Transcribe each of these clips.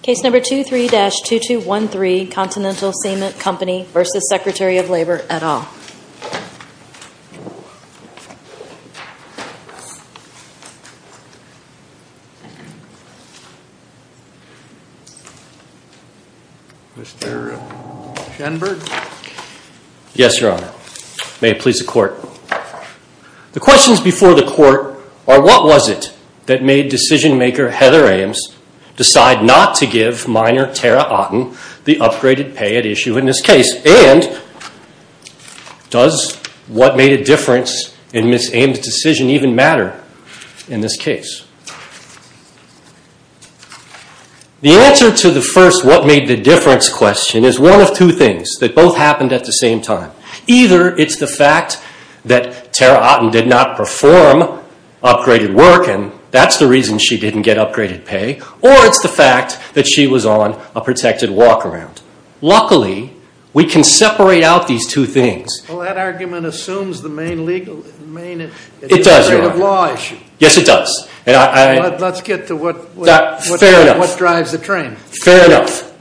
Case number 23-2213, Continental Cement Company v. Secretary of Labor, et al. Mr. Shenberg? Yes, Your Honor. May it please the Court. The questions before the Court are what was it that made decision-maker Heather Ames decide not to give minor Tara Otten the upgraded pay at issue in this case? And does what made a difference in Ms. Ames' decision even matter in this case? The answer to the first what made the difference question is one of two things that both happened at the same time. Either it's the fact that Tara Otten did not perform upgraded work, and that's the reason she didn't get upgraded pay, or it's the fact that she was on a protected walk-around. Luckily, we can separate out these two things. Well, that argument assumes the main legal... It does, Your Honor. ...integrative law issue. Yes, it does. Let's get to what... Fair enough. ...what drives the train. Fair enough,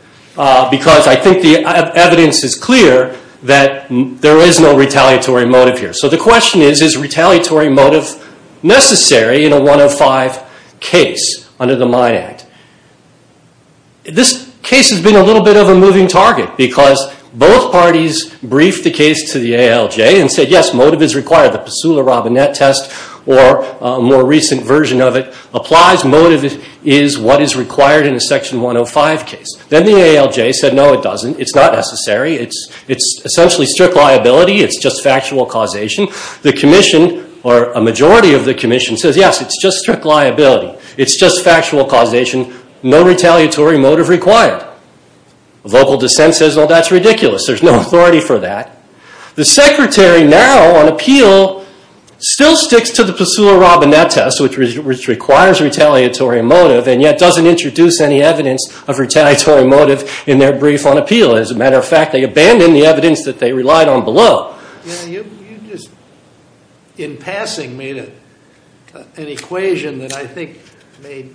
because I think the evidence is clear that there is no retaliatory motive here. So the question is, is retaliatory motive necessary in a 105 case under the Mine Act? This case has been a little bit of a moving target because both parties briefed the case to the ALJ and said, yes, motive is required. The Pesula-Robinet test or a more recent version of it applies. Motive is what is required in a Section 105 case. Then the ALJ said, no, it doesn't. It's not necessary. It's essentially strict liability. It's just factual causation. The Commission, or a majority of the Commission, says, yes, it's just strict liability. It's just factual causation. No retaliatory motive required. Vocal dissent says, well, that's ridiculous. There's no authority for that. The Secretary now on appeal still sticks to the Pesula-Robinet test, which requires retaliatory motive, and yet doesn't introduce any evidence of retaliatory motive in their brief on appeal. As a matter of fact, they abandoned the evidence that they relied on below. You just, in passing, made an equation that I think may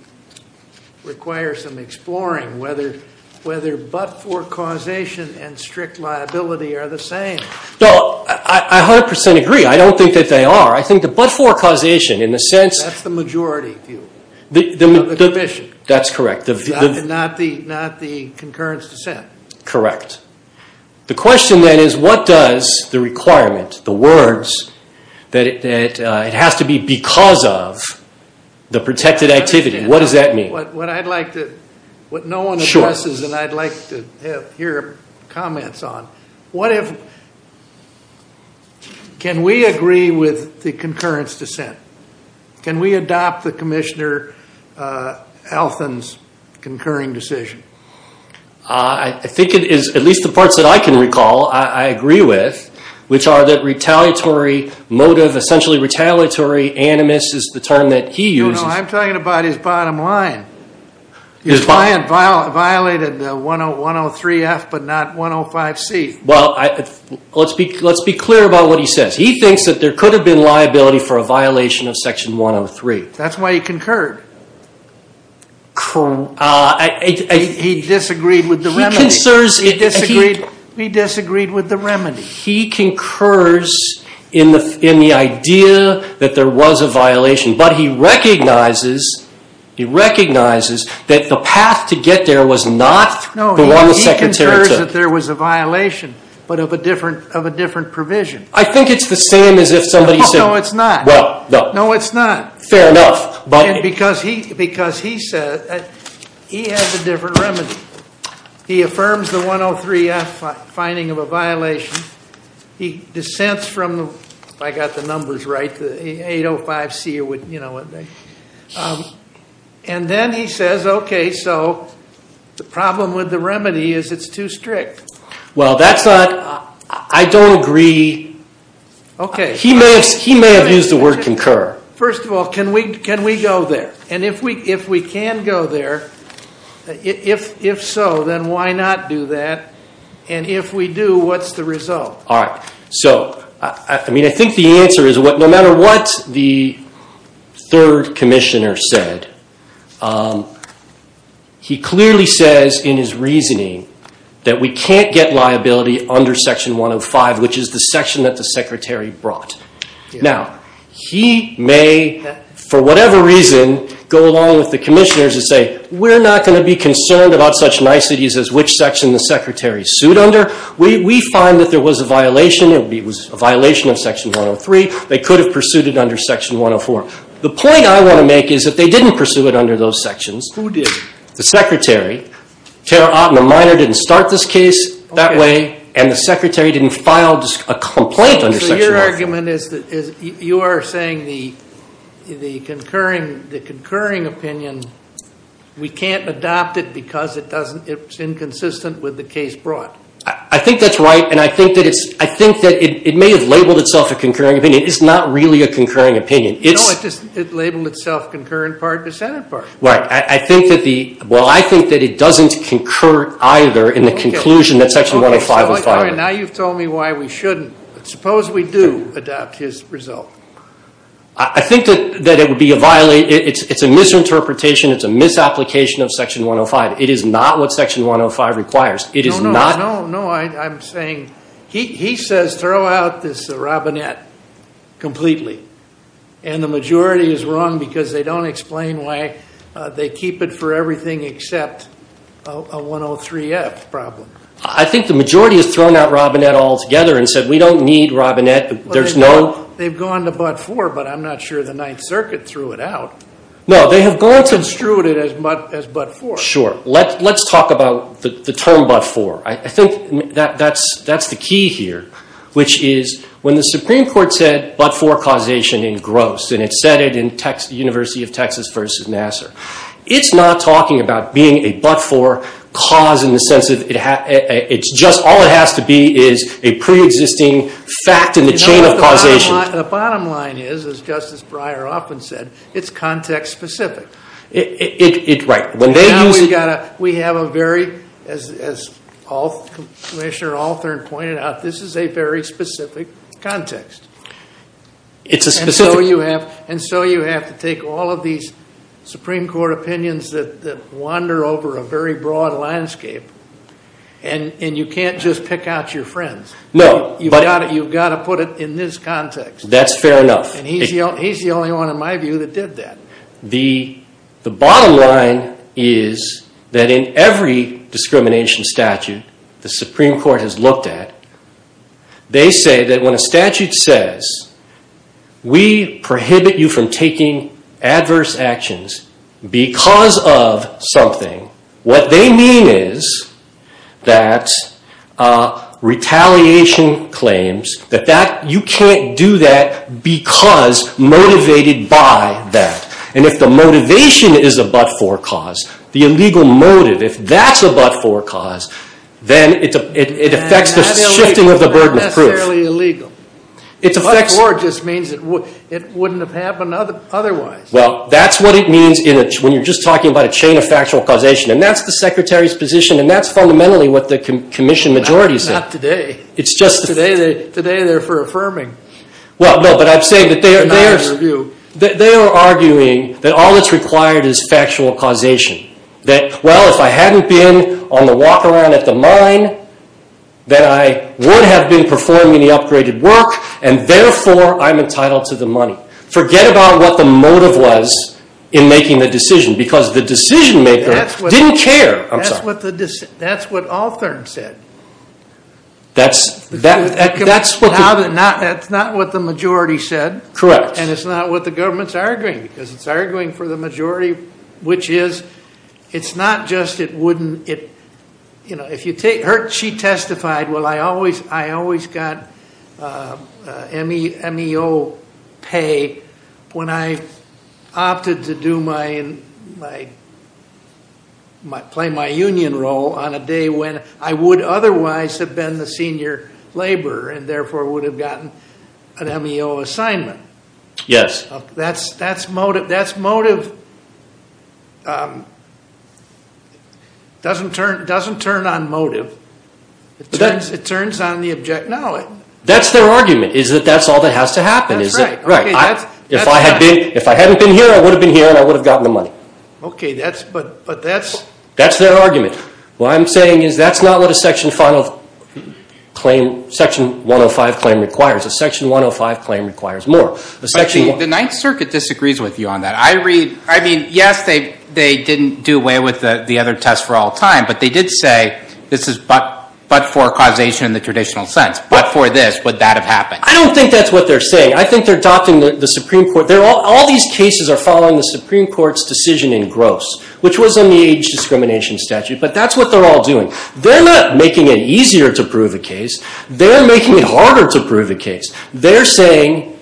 require some exploring, whether but-for causation and strict liability are the same. No, I 100% agree. I don't think that they are. I think the but-for causation, in a sense. That's the majority view of the Commission. That's correct. Not the concurrence dissent. Correct. The question, then, is what does the requirement, the words, that it has to be because of the protected activity, what does that mean? What I'd like to, what no one addresses and I'd like to hear comments on. What if, can we agree with the concurrence dissent? Can we adopt the Commissioner Althon's concurring decision? I think it is, at least the parts that I can recall, I agree with, which are that retaliatory motive, essentially retaliatory animus is the term that he uses. No, no, I'm talking about his bottom line. His bottom line. He violated 103F but not 105C. Well, let's be clear about what he says. He thinks that there could have been liability for a violation of Section 103. That's why he concurred. He disagreed with the remedy. He concurs. He disagreed with the remedy. He recognizes that the path to get there was not the one the Secretary took. No, he concurs that there was a violation but of a different provision. I think it's the same as if somebody said. No, it's not. Well, no. No, it's not. Fair enough. Because he said that he has a different remedy. He affirms the 103F finding of a violation. He dissents from, if I got the numbers right, the 805C. And then he says, okay, so the problem with the remedy is it's too strict. Well, that's not. I don't agree. Okay. He may have used the word concur. First of all, can we go there? And if we can go there, if so, then why not do that? And if we do, what's the result? All right. So, I mean, I think the answer is no matter what the third commissioner said, he clearly says in his reasoning that we can't get liability under Section 105, which is the section that the Secretary brought. Now, he may, for whatever reason, go along with the commissioners and say, we're not going to be concerned about such niceties as which section the Secretary sued under. We find that there was a violation. It was a violation of Section 103. They could have pursued it under Section 104. The point I want to make is that they didn't pursue it under those sections. Who did? The Secretary. Tara Otten, a minor, didn't start this case that way, and the Secretary didn't file a complaint under Section 104. Your argument is that you are saying the concurring opinion, we can't adopt it because it's inconsistent with the case brought. I think that's right, and I think that it may have labeled itself a concurring opinion. It's not really a concurring opinion. No, it labeled itself concurrent part to Senate part. Right. Well, I think that it doesn't concur either in the conclusion that Section 105 was filed. Now you've told me why we shouldn't. Suppose we do adopt his result. I think that it would be a violation. It's a misinterpretation. It's a misapplication of Section 105. It is not what Section 105 requires. No, no, no. I'm saying he says throw out this Robinette completely, and the majority is wrong because they don't explain why they keep it for everything except a 103F problem. I think the majority has thrown out Robinette altogether and said we don't need Robinette. There's no – They've gone to but-for, but I'm not sure the Ninth Circuit threw it out. No, they have gone to – Construed it as but-for. Sure. Let's talk about the term but-for. I think that's the key here, which is when the Supreme Court said but-for causation in Gross, and it said it in University of Texas v. Nassar, it's not talking about being a but-for cause in the sense that it's just – all it has to be is a preexisting fact in the chain of causation. The bottom line is, as Justice Breyer often said, it's context-specific. Right. Now we've got to – we have a very – as Commissioner Althern pointed out, this is a very specific context. It's a specific – And so you have to take all of these Supreme Court opinions that wander over a very broad landscape, and you can't just pick out your friends. No, but – You've got to put it in this context. That's fair enough. And he's the only one, in my view, that did that. The bottom line is that in every discrimination statute the Supreme Court has looked at, they say that when a statute says we prohibit you from taking adverse actions because of something, what they mean is that retaliation claims that you can't do that because motivated by that. And if the motivation is a but-for cause, the illegal motive, if that's a but-for cause, then it affects the shifting of the burden of proof. And that's not necessarily illegal. But-for just means it wouldn't have happened otherwise. Well, that's what it means when you're just talking about a chain of factual causation. And that's the Secretary's position, and that's fundamentally what the Commission majority said. Not today. It's just – Today they're for affirming. Well, no, but I'm saying that they are – They're not in review. They are arguing that all that's required is factual causation. That, well, if I hadn't been on the walk around at the mine, that I would have been performing the upgraded work, and therefore I'm entitled to the money. Forget about what the motive was in making the decision because the decision-maker didn't care. That's what Althorne said. That's what the – That's not what the majority said. Correct. And it's not what the government's arguing because it's arguing for the majority, which is it's not just it wouldn't – If you take – She testified, well, I always got MEO pay when I opted to do my – play my union role on a day when I would otherwise have been the senior laborer and therefore would have gotten an MEO assignment. Yes. That's motive. It doesn't turn on motive. It turns on the object knowledge. That's their argument is that that's all that has to happen. That's right. Right. If I hadn't been here, I would have been here, and I would have gotten the money. Okay, but that's – That's their argument. What I'm saying is that's not what a Section 105 claim requires. A Section 105 claim requires more. The Ninth Circuit disagrees with you on that. I read – I mean, yes, they didn't do away with the other test for all time, but they did say this is but for causation in the traditional sense. But for this, would that have happened? I don't think that's what they're saying. I think they're adopting the Supreme Court. All these cases are following the Supreme Court's decision in gross, which was in the age discrimination statute. But that's what they're all doing. They're not making it easier to prove a case. They're making it harder to prove a case. They're saying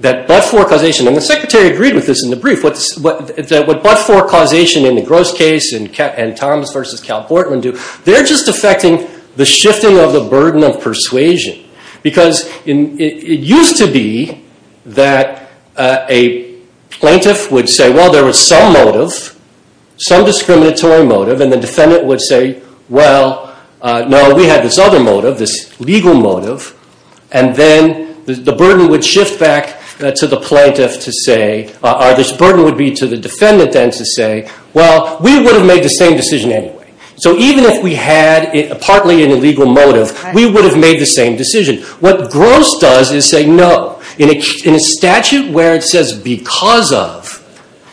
that but for causation – and the Secretary agreed with this in the brief – that what but for causation in the gross case and Thomas versus Cal Portman do, they're just affecting the shifting of the burden of persuasion. Because it used to be that a plaintiff would say, well, there was some motive, some discriminatory motive, and the defendant would say, well, no, we had this other motive, this legal motive, and then the burden would shift back to the plaintiff to say – or this burden would be to the defendant then to say, well, we would have made the same decision anyway. So even if we had partly an illegal motive, we would have made the same decision. What gross does is say no. In a statute where it says because of,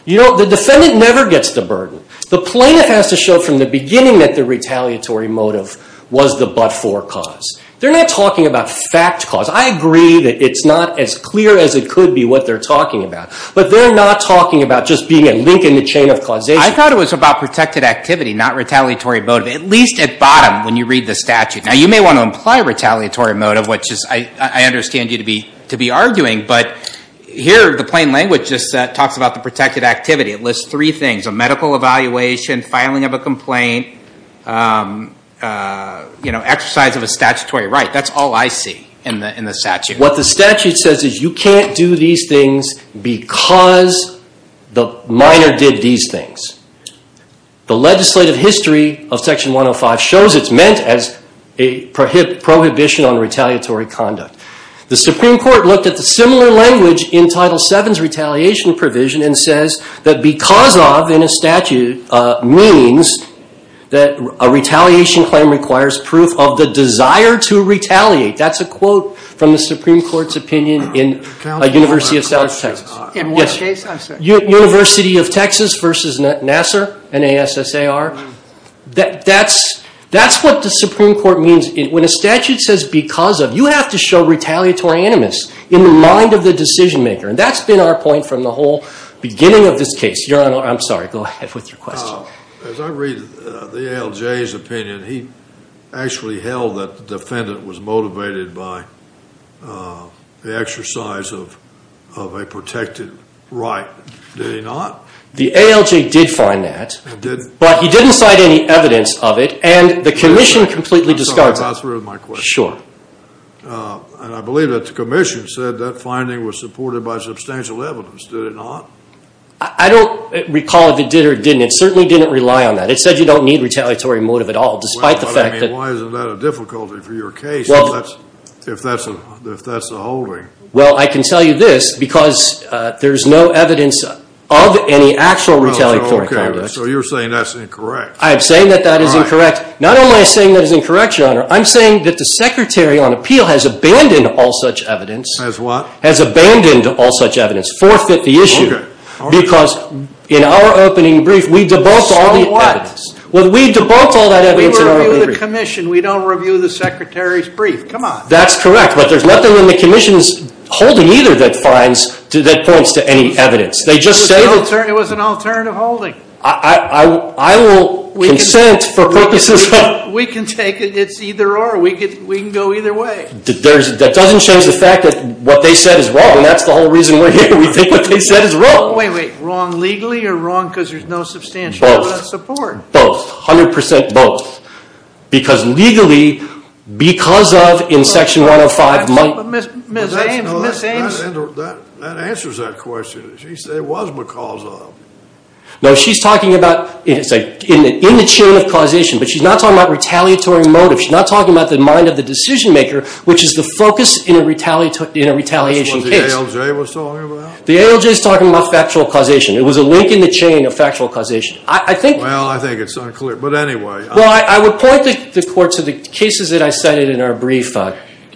you know, the defendant never gets the burden. The plaintiff has to show from the beginning that the retaliatory motive was the but for cause. They're not talking about fact cause. I agree that it's not as clear as it could be what they're talking about, but they're not talking about just being a link in the chain of causation. I thought it was about protected activity, not retaliatory motive, at least at bottom when you read the statute. Now, you may want to imply retaliatory motive, which I understand you to be arguing, but here the plain language just talks about the protected activity. It lists three things, a medical evaluation, filing of a complaint, you know, exercise of a statutory right. That's all I see in the statute. What the statute says is you can't do these things because the minor did these things. The legislative history of Section 105 shows it's meant as a prohibition on retaliatory conduct. The Supreme Court looked at the similar language in Title VII's retaliation provision and says that because of in a statute means that a retaliation claim requires proof of the desire to retaliate. That's a quote from the Supreme Court's opinion in University of South Texas. In what case? University of Texas versus Nassar, N-A-S-S-A-R. That's what the Supreme Court means. When a statute says because of, you have to show retaliatory animus in the mind of the decision maker. And that's been our point from the whole beginning of this case. Your Honor, I'm sorry. Go ahead with your question. As I read the ALJ's opinion, he actually held that the defendant was motivated by the exercise of a protected right. Did he not? The ALJ did find that. But he didn't cite any evidence of it. And the commission completely discussed it. I'm sorry. I'm not sure of my question. Sure. And I believe that the commission said that finding was supported by substantial evidence. Did it not? I don't recall if it did or didn't. It certainly didn't rely on that. It said you don't need retaliatory motive at all, despite the fact that. Why isn't that a difficulty for your case if that's the holding? Well, I can tell you this because there's no evidence of any actual retaliatory conduct. So you're saying that's incorrect. I am saying that that is incorrect. Not only am I saying that is incorrect, Your Honor. I'm saying that the secretary on appeal has abandoned all such evidence. Has what? Has abandoned all such evidence. Forfeit the issue. Okay. Because in our opening brief, we debunked all the evidence. So what? Well, we debunked all that evidence in our opening brief. We review the commission. We don't review the secretary's brief. Come on. That's correct. But there's nothing in the commission's holding either that points to any evidence. They just say that. It was an alternative holding. I will consent for purposes of. We can take it. It's either or. We can go either way. That doesn't change the fact that what they said is wrong. And that's the whole reason we're here. We think what they said is wrong. Wait, wait. Wrong legally or wrong because there's no substantial support? Both. 100% both. Because legally, because of in section 105. Ms. Ames. Ms. Ames. That answers that question. She said it was because of. No, she's talking about in the chain of causation. But she's not talking about retaliatory motive. She's not talking about the mind of the decision maker, which is the focus in a retaliation case. That's what the ALJ was talking about? The ALJ is talking about factual causation. It was a link in the chain of factual causation. I think. Well, I think it's unclear. But anyway. Well, I would point the court to the cases that I cited in our brief,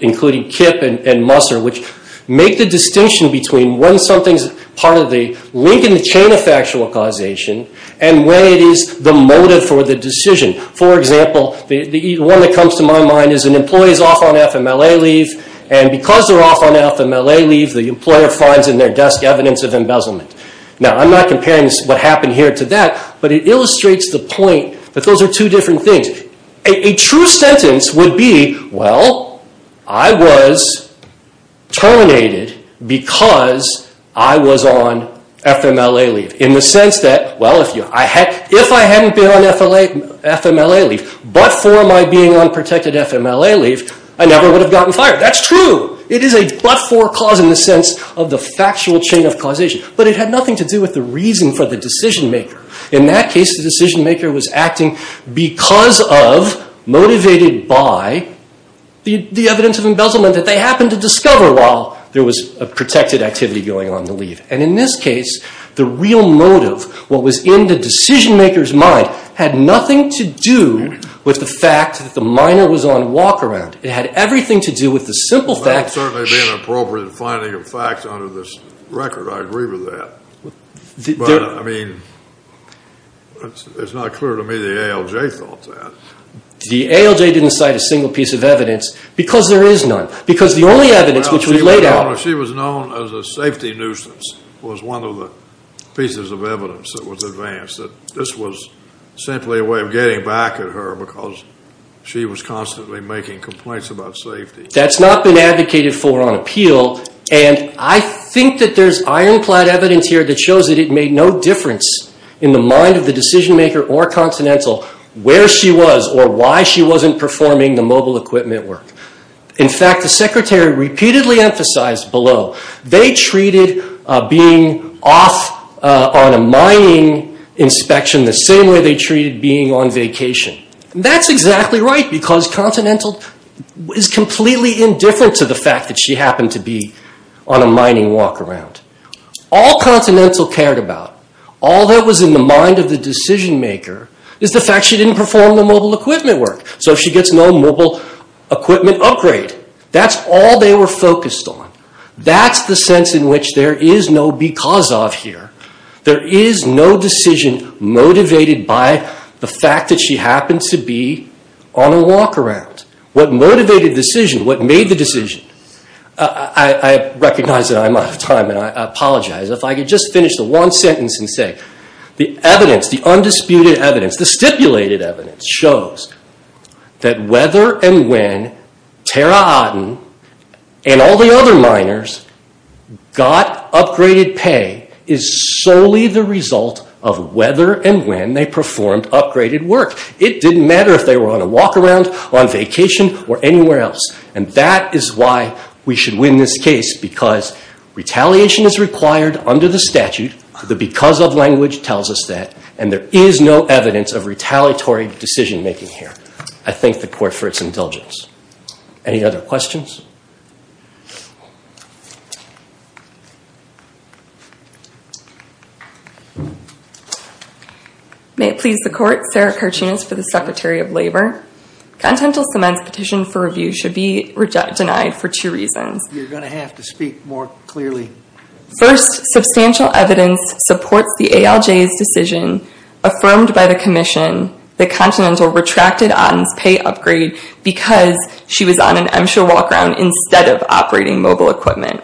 including Kip and Musser, which make the distinction between when something's part of the link in the chain of factual causation and when it is the motive for the decision. For example, the one that comes to my mind is an employee is off on FMLA leave. And because they're off on FMLA leave, the employer finds in their desk evidence of embezzlement. Now, I'm not comparing what happened here to that. But it illustrates the point that those are two different things. A true sentence would be, well, I was terminated because I was on FMLA leave. In the sense that, well, if I hadn't been on FMLA leave but for my being on protected FMLA leave, I never would have gotten fired. That's true. It is a but-for cause in the sense of the factual chain of causation. But it had nothing to do with the reason for the decision-maker. In that case, the decision-maker was acting because of, motivated by, the evidence of embezzlement that they happened to discover while there was a protected activity going on on the leave. And in this case, the real motive, what was in the decision-maker's mind, had nothing to do with the fact that the minor was on walk-around. It had everything to do with the simple fact. Well, it would certainly be an appropriate finding of facts under this record. I agree with that. But, I mean, it's not clear to me the ALJ thought that. The ALJ didn't cite a single piece of evidence because there is none. Because the only evidence which we laid out. Well, she was known as a safety nuisance, was one of the pieces of evidence that was advanced. This was simply a way of getting back at her because she was constantly making complaints about safety. That's not been advocated for on appeal. And I think that there's ironclad evidence here that shows that it made no difference in the mind of the decision-maker or Continental where she was or why she wasn't performing the mobile equipment work. In fact, the secretary repeatedly emphasized below, they treated being off on a mining inspection the same way they treated being on vacation. And that's exactly right because Continental is completely indifferent to the fact that she happened to be on a mining walk-around. All Continental cared about, all that was in the mind of the decision-maker, is the fact she didn't perform the mobile equipment work. So she gets no mobile equipment upgrade. That's all they were focused on. That's the sense in which there is no because of here. There is no decision motivated by the fact that she happened to be on a walk-around. What motivated the decision, what made the decision, I recognize that I'm out of time and I apologize. If I could just finish the one sentence and say, the evidence, the undisputed evidence, the stipulated evidence shows that whether and when Tara Aden and all the other miners got upgraded pay is solely the result of whether and when they performed upgraded work. It didn't matter if they were on a walk-around, on vacation, or anywhere else. And that is why we should win this case because retaliation is required under the statute, the because of language tells us that, and there is no evidence of retaliatory decision-making here. I thank the Court for its indulgence. Any other questions? May it please the Court, Sarah Karchunas for the Secretary of Labor. Continental Cement's petition for review should be denied for two reasons. You're going to have to speak more clearly. First, substantial evidence supports the ALJ's decision affirmed by the commission that Continental retracted Aden's pay upgrade because she was on an MSHA walk-around instead of operating mobile equipment.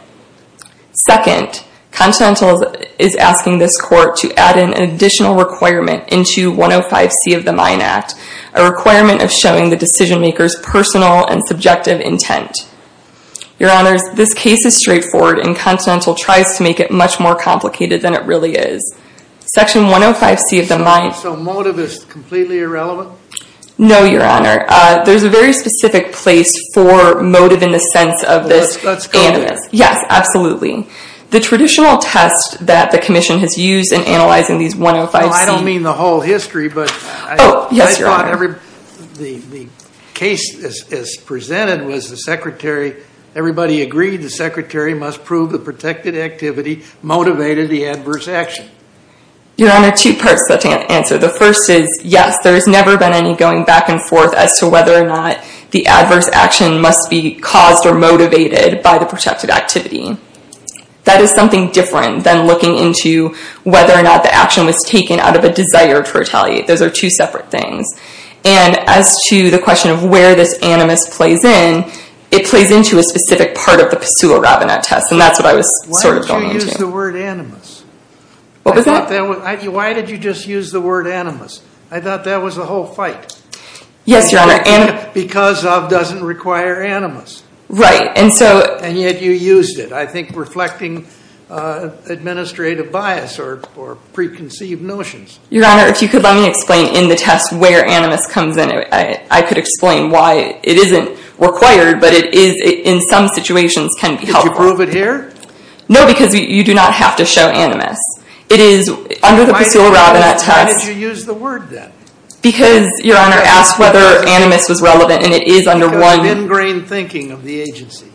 Second, Continental is asking this Court to add an additional requirement into 105C of the Mine Act, a requirement of showing the decision-maker's personal and subjective intent. Your Honors, this case is straightforward and Continental tries to make it much more complicated than it really is. Section 105C of the mine... So motive is completely irrelevant? No, Your Honor. There's a very specific place for motive in the sense of this... Let's go there. Yes, absolutely. The traditional test that the commission has used in analyzing these 105C... I don't mean the whole history, but... Oh, yes, Your Honor. The case as presented was the secretary... Everybody agreed the secretary must prove the protected activity motivated the adverse action. Your Honor, two parts to that answer. The first is, yes, there has never been any going back and forth as to whether or not the adverse action must be caused or motivated by the protected activity. That is something different than looking into whether or not the action was taken out of a desire to retaliate. Those are two separate things. And as to the question of where this animus plays in, it plays into a specific part of the PASUA Robinette test, and that's what I was sort of going into. Why did you use the word animus? What was that? Why did you just use the word animus? I thought that was the whole fight. Yes, Your Honor. Because of doesn't require animus. Right, and so... And yet you used it, I think reflecting administrative bias or preconceived notions. Your Honor, if you could let me explain in the test where animus comes in, I could explain why it isn't required, but it is in some situations can be helpful. Could you prove it here? No, because you do not have to show animus. It is under the PASUA Robinette test... Why did you use the word then? Because, Your Honor, I asked whether animus was relevant, and it is under one... Because of the thin-grain thinking of the agency.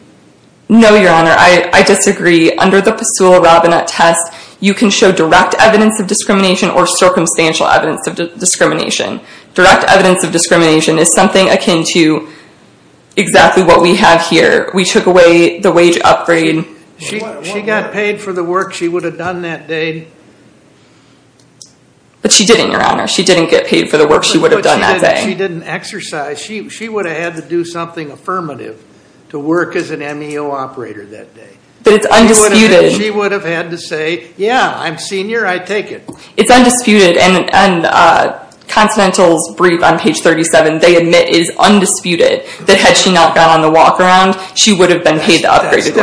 No, Your Honor, I disagree. Under the PASUA Robinette test, you can show direct evidence of discrimination or circumstantial evidence of discrimination. Direct evidence of discrimination is something akin to exactly what we have here. We took away the wage upgrade... She got paid for the work she would have done that day. But she didn't, Your Honor. She didn't get paid for the work she would have done that day. She didn't exercise. She would have had to do something affirmative to work as an MEO operator that day. But it's undisputed. She would have had to say, yeah, I'm senior, I take it. It's undisputed. And Continental's brief on page 37, they admit is undisputed, that had she not gone on the walk around, she would have been paid the upgrade. That's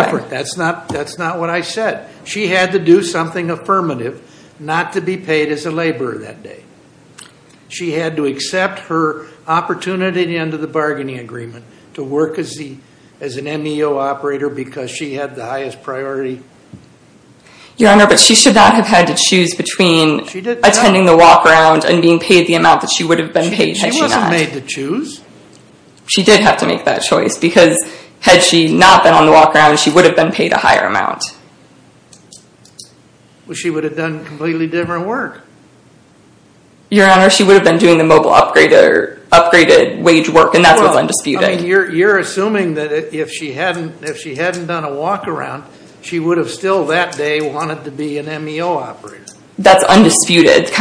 different. That's not what I said. She had to do something affirmative not to be paid as a laborer that day. She had to accept her opportunity at the end of the bargaining agreement to work as an MEO operator because she had the highest priority. Your Honor, but she should not have had to choose between attending the walk around and being paid the amount that she would have been paid had she not. She wasn't made to choose. She did have to make that choice because had she not been on the walk around, she would have been paid a higher amount. Well, she would have done completely different work. Your Honor, she would have been doing the mobile upgraded wage work and that's what's undisputed. You're assuming that if she hadn't done a walk around, she would have still that day wanted to be an MEO operator. That's undisputed.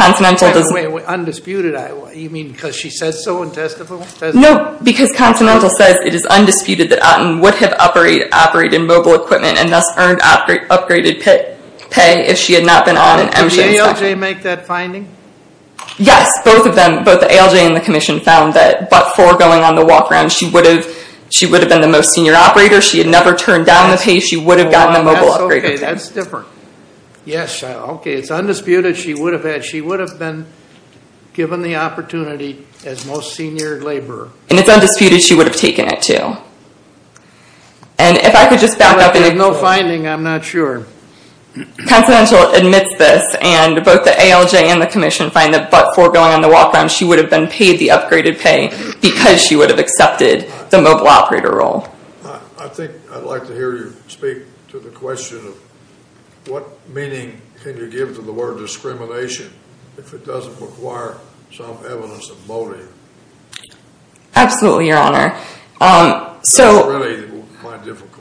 Wait, undisputed? You mean because she said so in testimony? No, because Continental says it is undisputed that Otten would have operated mobile equipment and thus earned upgraded pay if she had not been on an MSHA inspection. Did the ALJ make that finding? Yes, both of them. Both the ALJ and the Commission found that but for going on the walk around, she would have been the most senior operator. She had never turned down the pay. She would have gotten the mobile upgraded pay. That's different. Yes. Okay, it's undisputed. She would have been given the opportunity as most senior laborer. And it's undisputed she would have taken it too. If I could just back up. There's no finding. I'm not sure. Continental admits this and both the ALJ and the Commission find that but for going on the walk around, she would have been paid the upgraded pay because she would have accepted the mobile operator role. I think I'd like to hear you speak to the question of what meaning can you give to the word discrimination if it doesn't require some evidence of motive? Absolutely, Your Honor. So... That's really my difficulty.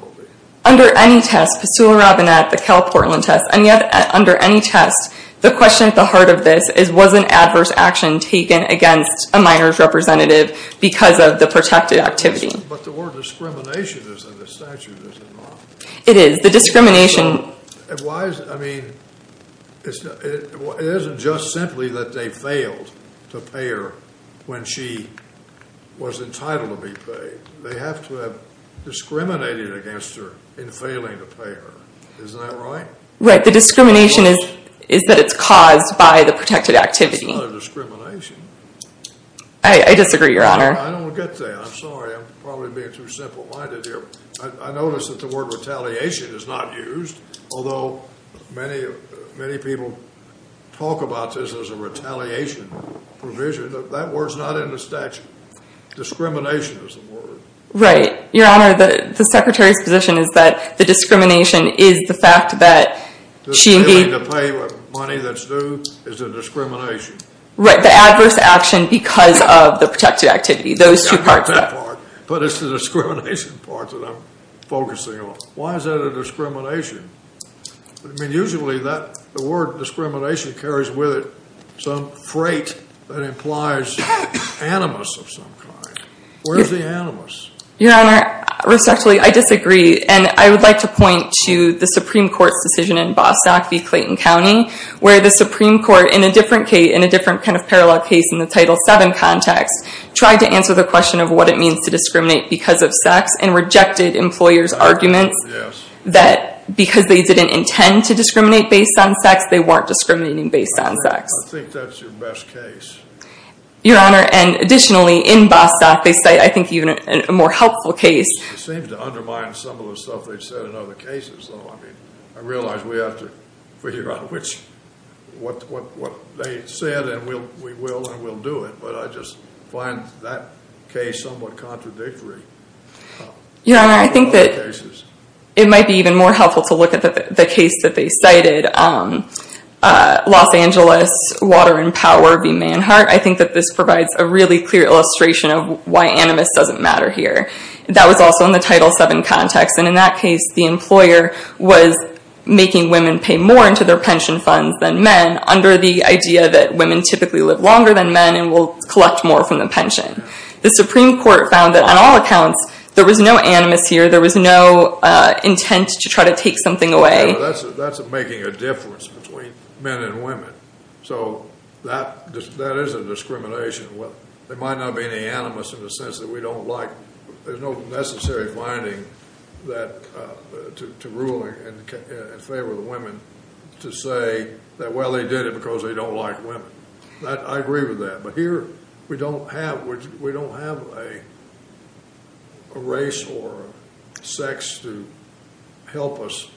Under any test, Postula Robinette, the Cal Portland test, under any test, the question at the heart of this was an adverse action taken against a minor's representative because of the protected activity. But the word discrimination is in the statute, is it not? It is. The discrimination... Why is it? I mean, it isn't just simply that they failed to pay her when she was entitled to be paid. They have to have discriminated against her in failing to pay her. Isn't that right? Right. The discrimination is that it's caused by the protected activity. It's not a discrimination. I disagree, Your Honor. I don't get that. I'm sorry. I'm probably being too simple-minded here. I notice that the word retaliation is not used, although many people talk about this as a retaliation provision. That word's not in the statute. Discrimination is the word. Right. Your Honor, the Secretary's position is that the discrimination is the fact that she... Failing to pay with money that's due is a discrimination. Right. The adverse action because of the protected activity, those two parts of it. Not that part, but it's the discrimination part that I'm focusing on. Why is that a discrimination? I mean, usually the word discrimination carries with it some freight that implies animus of some kind. Where's the animus? Your Honor, respectfully, I disagree. And I would like to point to the Supreme Court's decision in Bostock v. Clayton County, where the Supreme Court, in a different kind of parallel case in the Title VII context, tried to answer the question of what it means to discriminate because of sex and rejected employers' arguments that because they didn't intend to discriminate based on sex, they weren't discriminating based on sex. I think that's your best case. Your Honor, and additionally, in Bostock, they cite, I think, even a more helpful case. It seems to undermine some of the stuff they've said in other cases, though. I mean, I realize we have to figure out what they said, and we will, and we'll do it. But I just find that case somewhat contradictory. Your Honor, I think that it might be even more helpful to look at the case that they cited, Los Angeles Water and Power v. Manhart. I think that this provides a really clear illustration of why animus doesn't matter here. That was also in the Title VII context, and in that case, the employer was making women pay more into their pension funds than men under the idea that women typically live longer than men and will collect more from the pension. The Supreme Court found that on all accounts, there was no animus here. There was no intent to try to take something away. That's making a difference between men and women. So that is a discrimination. There might not be any animus in the sense that we don't like. There's no necessary finding to rule in favor of the women to say that, well, they did it because they don't like women. I agree with that. But here, we don't have a race or sex to help us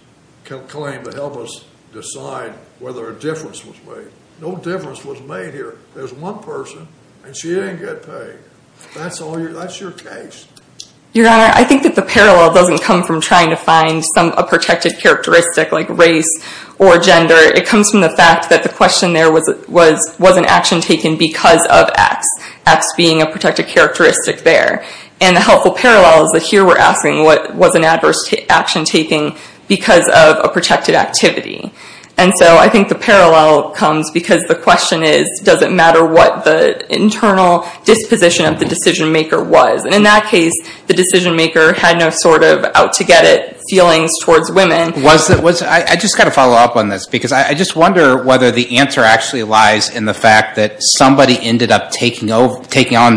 claim, to help us decide whether a difference was made. No difference was made here. There's one person, and she didn't get paid. That's your case. Your Honor, I think that the parallel doesn't come from trying to find a protected characteristic like race or gender. It comes from the fact that the question there was an action taken because of X, X being a protected characteristic there. And the helpful parallel is that here we're asking what was an adverse action taken because of a protected activity. And so I think the parallel comes because the question is, does it matter what the internal disposition of the decision maker was? And in that case, the decision maker had no sort of out-to-get-it feelings towards women. I just got to follow up on this because I just wonder whether the answer actually lies in the fact that somebody ended up taking on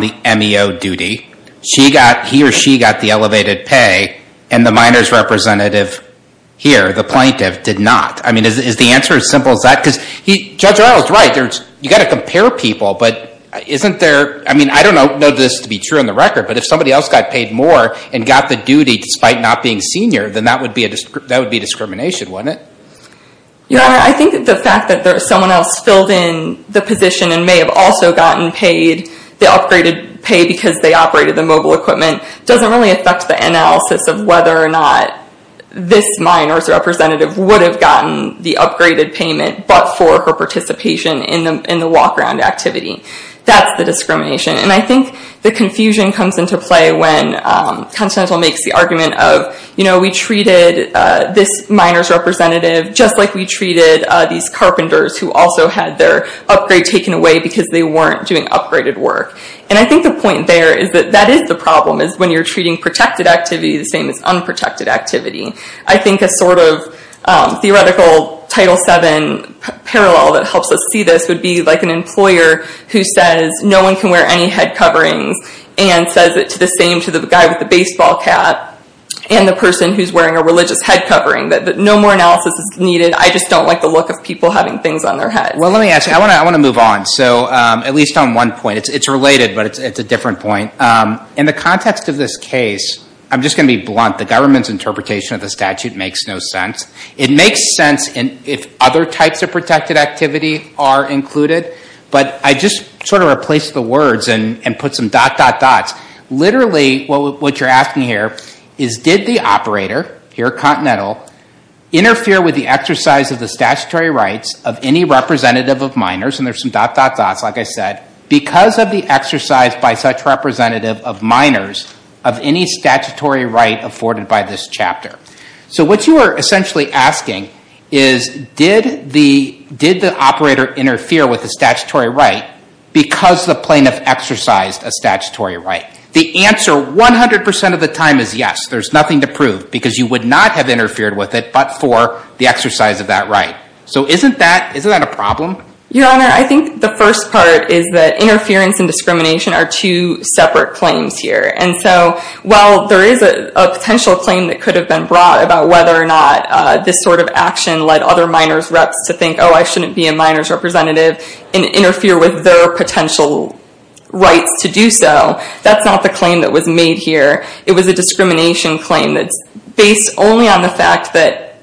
the MEO duty. He or she got the elevated pay, and the minors representative here, the plaintiff, did not. I mean, is the answer as simple as that? Because Judge Reynolds is right. You've got to compare people, but isn't there, I mean, I don't know this to be true on the record, but if somebody else got paid more and got the duty despite not being senior, then that would be discrimination, wouldn't it? Yeah, I think that the fact that someone else filled in the position and may have also gotten paid the upgraded pay because they operated the mobile equipment doesn't really affect the analysis of whether or not this minor's representative would have gotten the upgraded payment but for her participation in the walk-around activity. That's the discrimination. And I think the confusion comes into play when Constantin makes the argument of, you know, we treated this minor's representative just like we treated these carpenters who also had their upgrade taken away because they weren't doing upgraded work. And I think the point there is that that is the problem, is when you're treating protected activity the same as unprotected activity. I think a sort of theoretical Title VII parallel that helps us see this would be like an employer who says, no one can wear any head coverings and says the same to the guy with the baseball cap and the person who's wearing a religious head covering. No more analysis is needed. I just don't like the look of people having things on their head. Well, let me ask you. I want to move on. So at least on one point, it's related, but it's a different point. In the context of this case, I'm just going to be blunt. The government's interpretation of the statute makes no sense. It makes sense if other types of protected activity are included, but I just sort of replaced the words and put some dot, dot, dots. Literally what you're asking here is, did the operator, here continental, interfere with the exercise of the statutory rights of any representative of minors, and there's some dot, dot, dots, like I said, because of the exercise by such representative of minors of any statutory right afforded by this chapter. So what you are essentially asking is, did the operator interfere with the statutory right because the plaintiff exercised a statutory right? The answer 100% of the time is yes. There's nothing to prove, because you would not have interfered with it but for the exercise of that right. So isn't that a problem? Your Honor, I think the first part is that interference and discrimination are two separate claims here, and so while there is a potential claim that could have been brought about whether or not this sort of action led other minors' reps to think, oh, I shouldn't be a minors' representative, and interfere with their potential rights to do so, that's not the claim that was made here. It was a discrimination claim that's based only on the fact that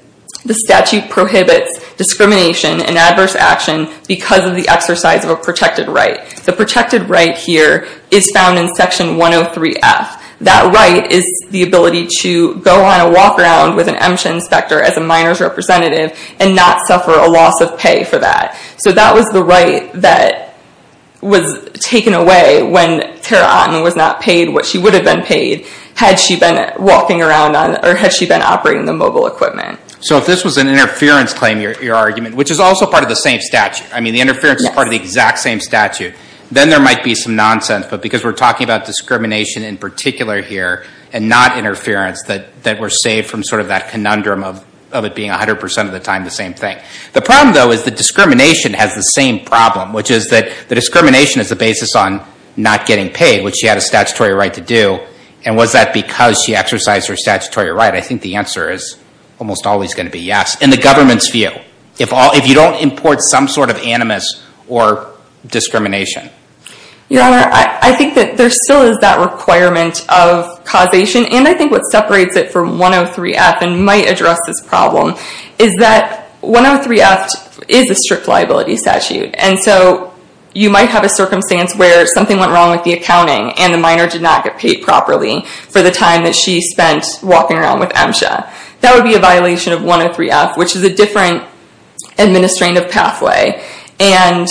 the statute prohibits discrimination and adverse action because of the exercise of a protected right. The protected right here is found in Section 103F. That right is the ability to go on a walk around with an EMCHA inspector as a minors' representative and not suffer a loss of pay for that. So that was the right that was taken away when Tara Otten was not paid what she would have been paid had she been walking around on, or had she been operating the mobile equipment. So if this was an interference claim, your argument, which is also part of the same statute, I mean the interference is part of the exact same statute, then there might be some nonsense, but because we're talking about discrimination in particular here and not interference, that we're safe from sort of that conundrum of it being 100% of the time the same thing. The problem, though, is that discrimination has the same problem, which is that the discrimination is the basis on not getting paid, which she had a statutory right to do. And was that because she exercised her statutory right? I think the answer is almost always going to be yes, in the government's view, if you don't import some sort of animus or discrimination. Your Honor, I think that there still is that requirement of causation, and I think what separates it from 103F and might address this problem is that 103F is a strict liability statute, and so you might have a circumstance where something went wrong with the accounting and the minor did not get paid properly for the time that she spent walking around with MSHA. That would be a violation of 103F, which is a different administrative pathway and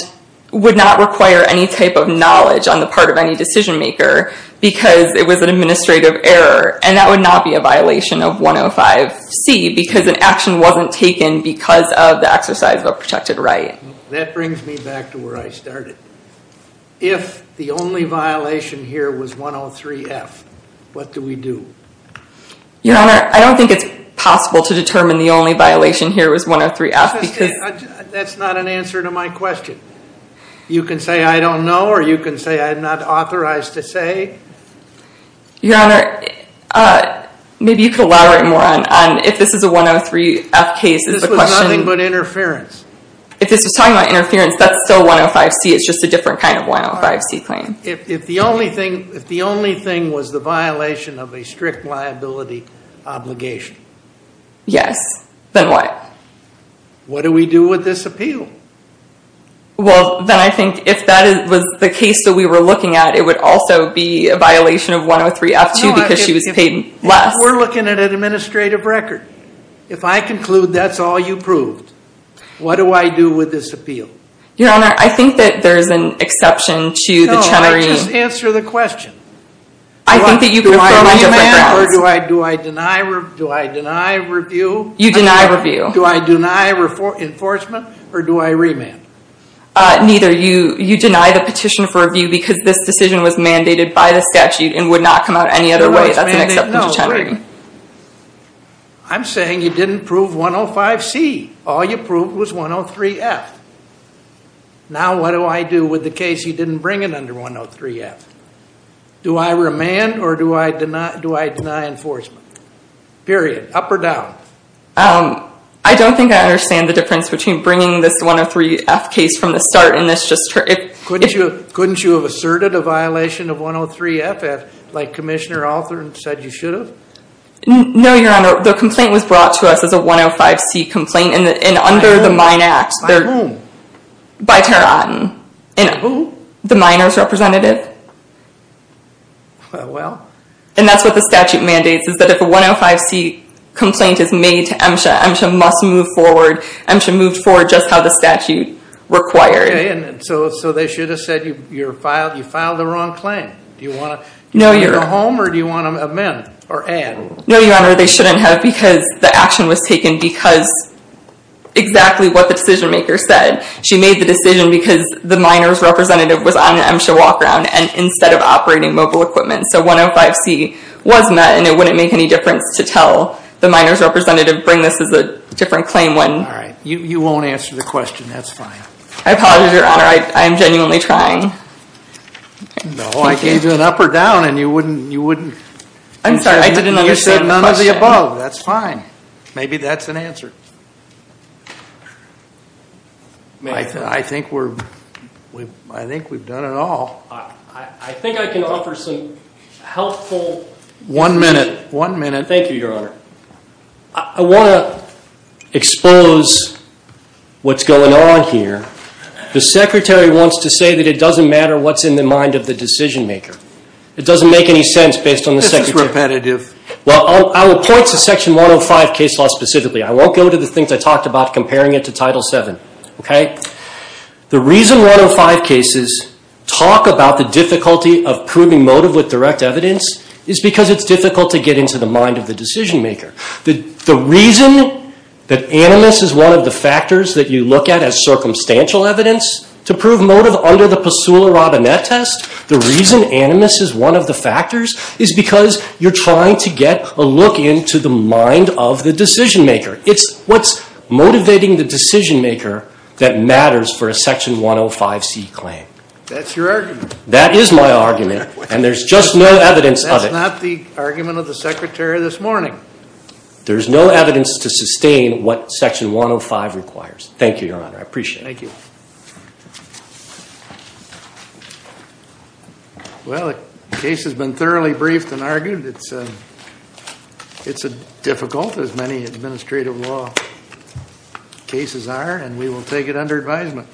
would not require any type of knowledge on the part of any decision-maker because it was an administrative error, and that would not be a violation of 105C because an action wasn't taken because of the exercise of a protected right. That brings me back to where I started. If the only violation here was 103F, what do we do? Your Honor, I don't think it's possible to determine the only violation here was 103F because... That's not an answer to my question. You can say I don't know, or you can say I'm not authorized to say. Your Honor, maybe you could elaborate more on if this is a 103F case. This was nothing but interference. If this was talking about interference, that's still 105C. It's just a different kind of 105C claim. If the only thing was the violation of a strict liability obligation... Yes. Then what? What do we do with this appeal? Well, then I think if that was the case that we were looking at, it would also be a violation of 103F too because she was paid less. We're looking at an administrative record. If I conclude that's all you proved, what do I do with this appeal? Your Honor, I think that there's an exception to the Chenery... No, I just answer the question. I think that you prefer my different grounds. Do I deny review? You deny review. Do I deny enforcement or do I remand? Neither. You deny the petition for review because this decision was mandated by the statute and would not come out any other way. That's an exception to Chenery. I'm saying you didn't prove 105C. All you proved was 103F. Now what do I do with the case you didn't bring it under 103F? Do I remand or do I deny enforcement? Period. Up or down? I don't think I understand the difference between bringing this 103F case from the start and this just... Couldn't you have asserted a violation of 103F like Commissioner Althorn said you should have? No, Your Honor. The complaint was brought to us as a 105C complaint and under the Mine Act. By whom? By Tara Otten. Who? The Miner's representative. Well... And that's what the statute mandates is that if a 105C complaint is made to MSHA, MSHA must move forward. MSHA moved forward just how the statute required. So they should have said you filed the wrong claim. Do you want to go home or do you want to amend or add? No, Your Honor. They shouldn't have because the action was taken because exactly what the decision maker said. She made the decision because the Miner's representative was on an MSHA walk-around instead of operating mobile equipment. So 105C was met and it wouldn't make any difference to tell the Miner's representative bring this as a different claim when... All right. You won't answer the question. That's fine. I apologize, Your Honor. I'm genuinely trying. No, I gave you an up or down and you wouldn't... I'm sorry. I didn't understand. You said none of the above. That's fine. Maybe that's an answer. I think we're... I think we've done it all. I think I can offer some helpful... One minute. One minute. Thank you, Your Honor. I want to expose what's going on here. The Secretary wants to say that it doesn't matter what's in the mind of the decision maker. It doesn't make any sense based on the Secretary. This is repetitive. Well, I will point to Section 105 case law specifically. I won't go to the things I talked about comparing it to Title VII, okay? The reason 105 cases talk about the difficulty of proving motive with direct evidence is because it's difficult to get into the mind of the decision maker. The reason that animus is one of the factors that you look at as circumstantial evidence to prove motive under the Pasula Robinette test, the reason animus is one of the factors is because you're trying to get a look into the mind of the decision maker. It's what's motivating the decision maker that matters for a Section 105C claim. That's your argument. That is my argument, and there's just no evidence of it. That's not the argument of the Secretary this morning. There's no evidence to sustain what Section 105 requires. Thank you, Your Honor. I appreciate it. Thank you. Well, the case has been thoroughly briefed and argued. It's difficult, as many administrative law cases are, and we will take it under advisement.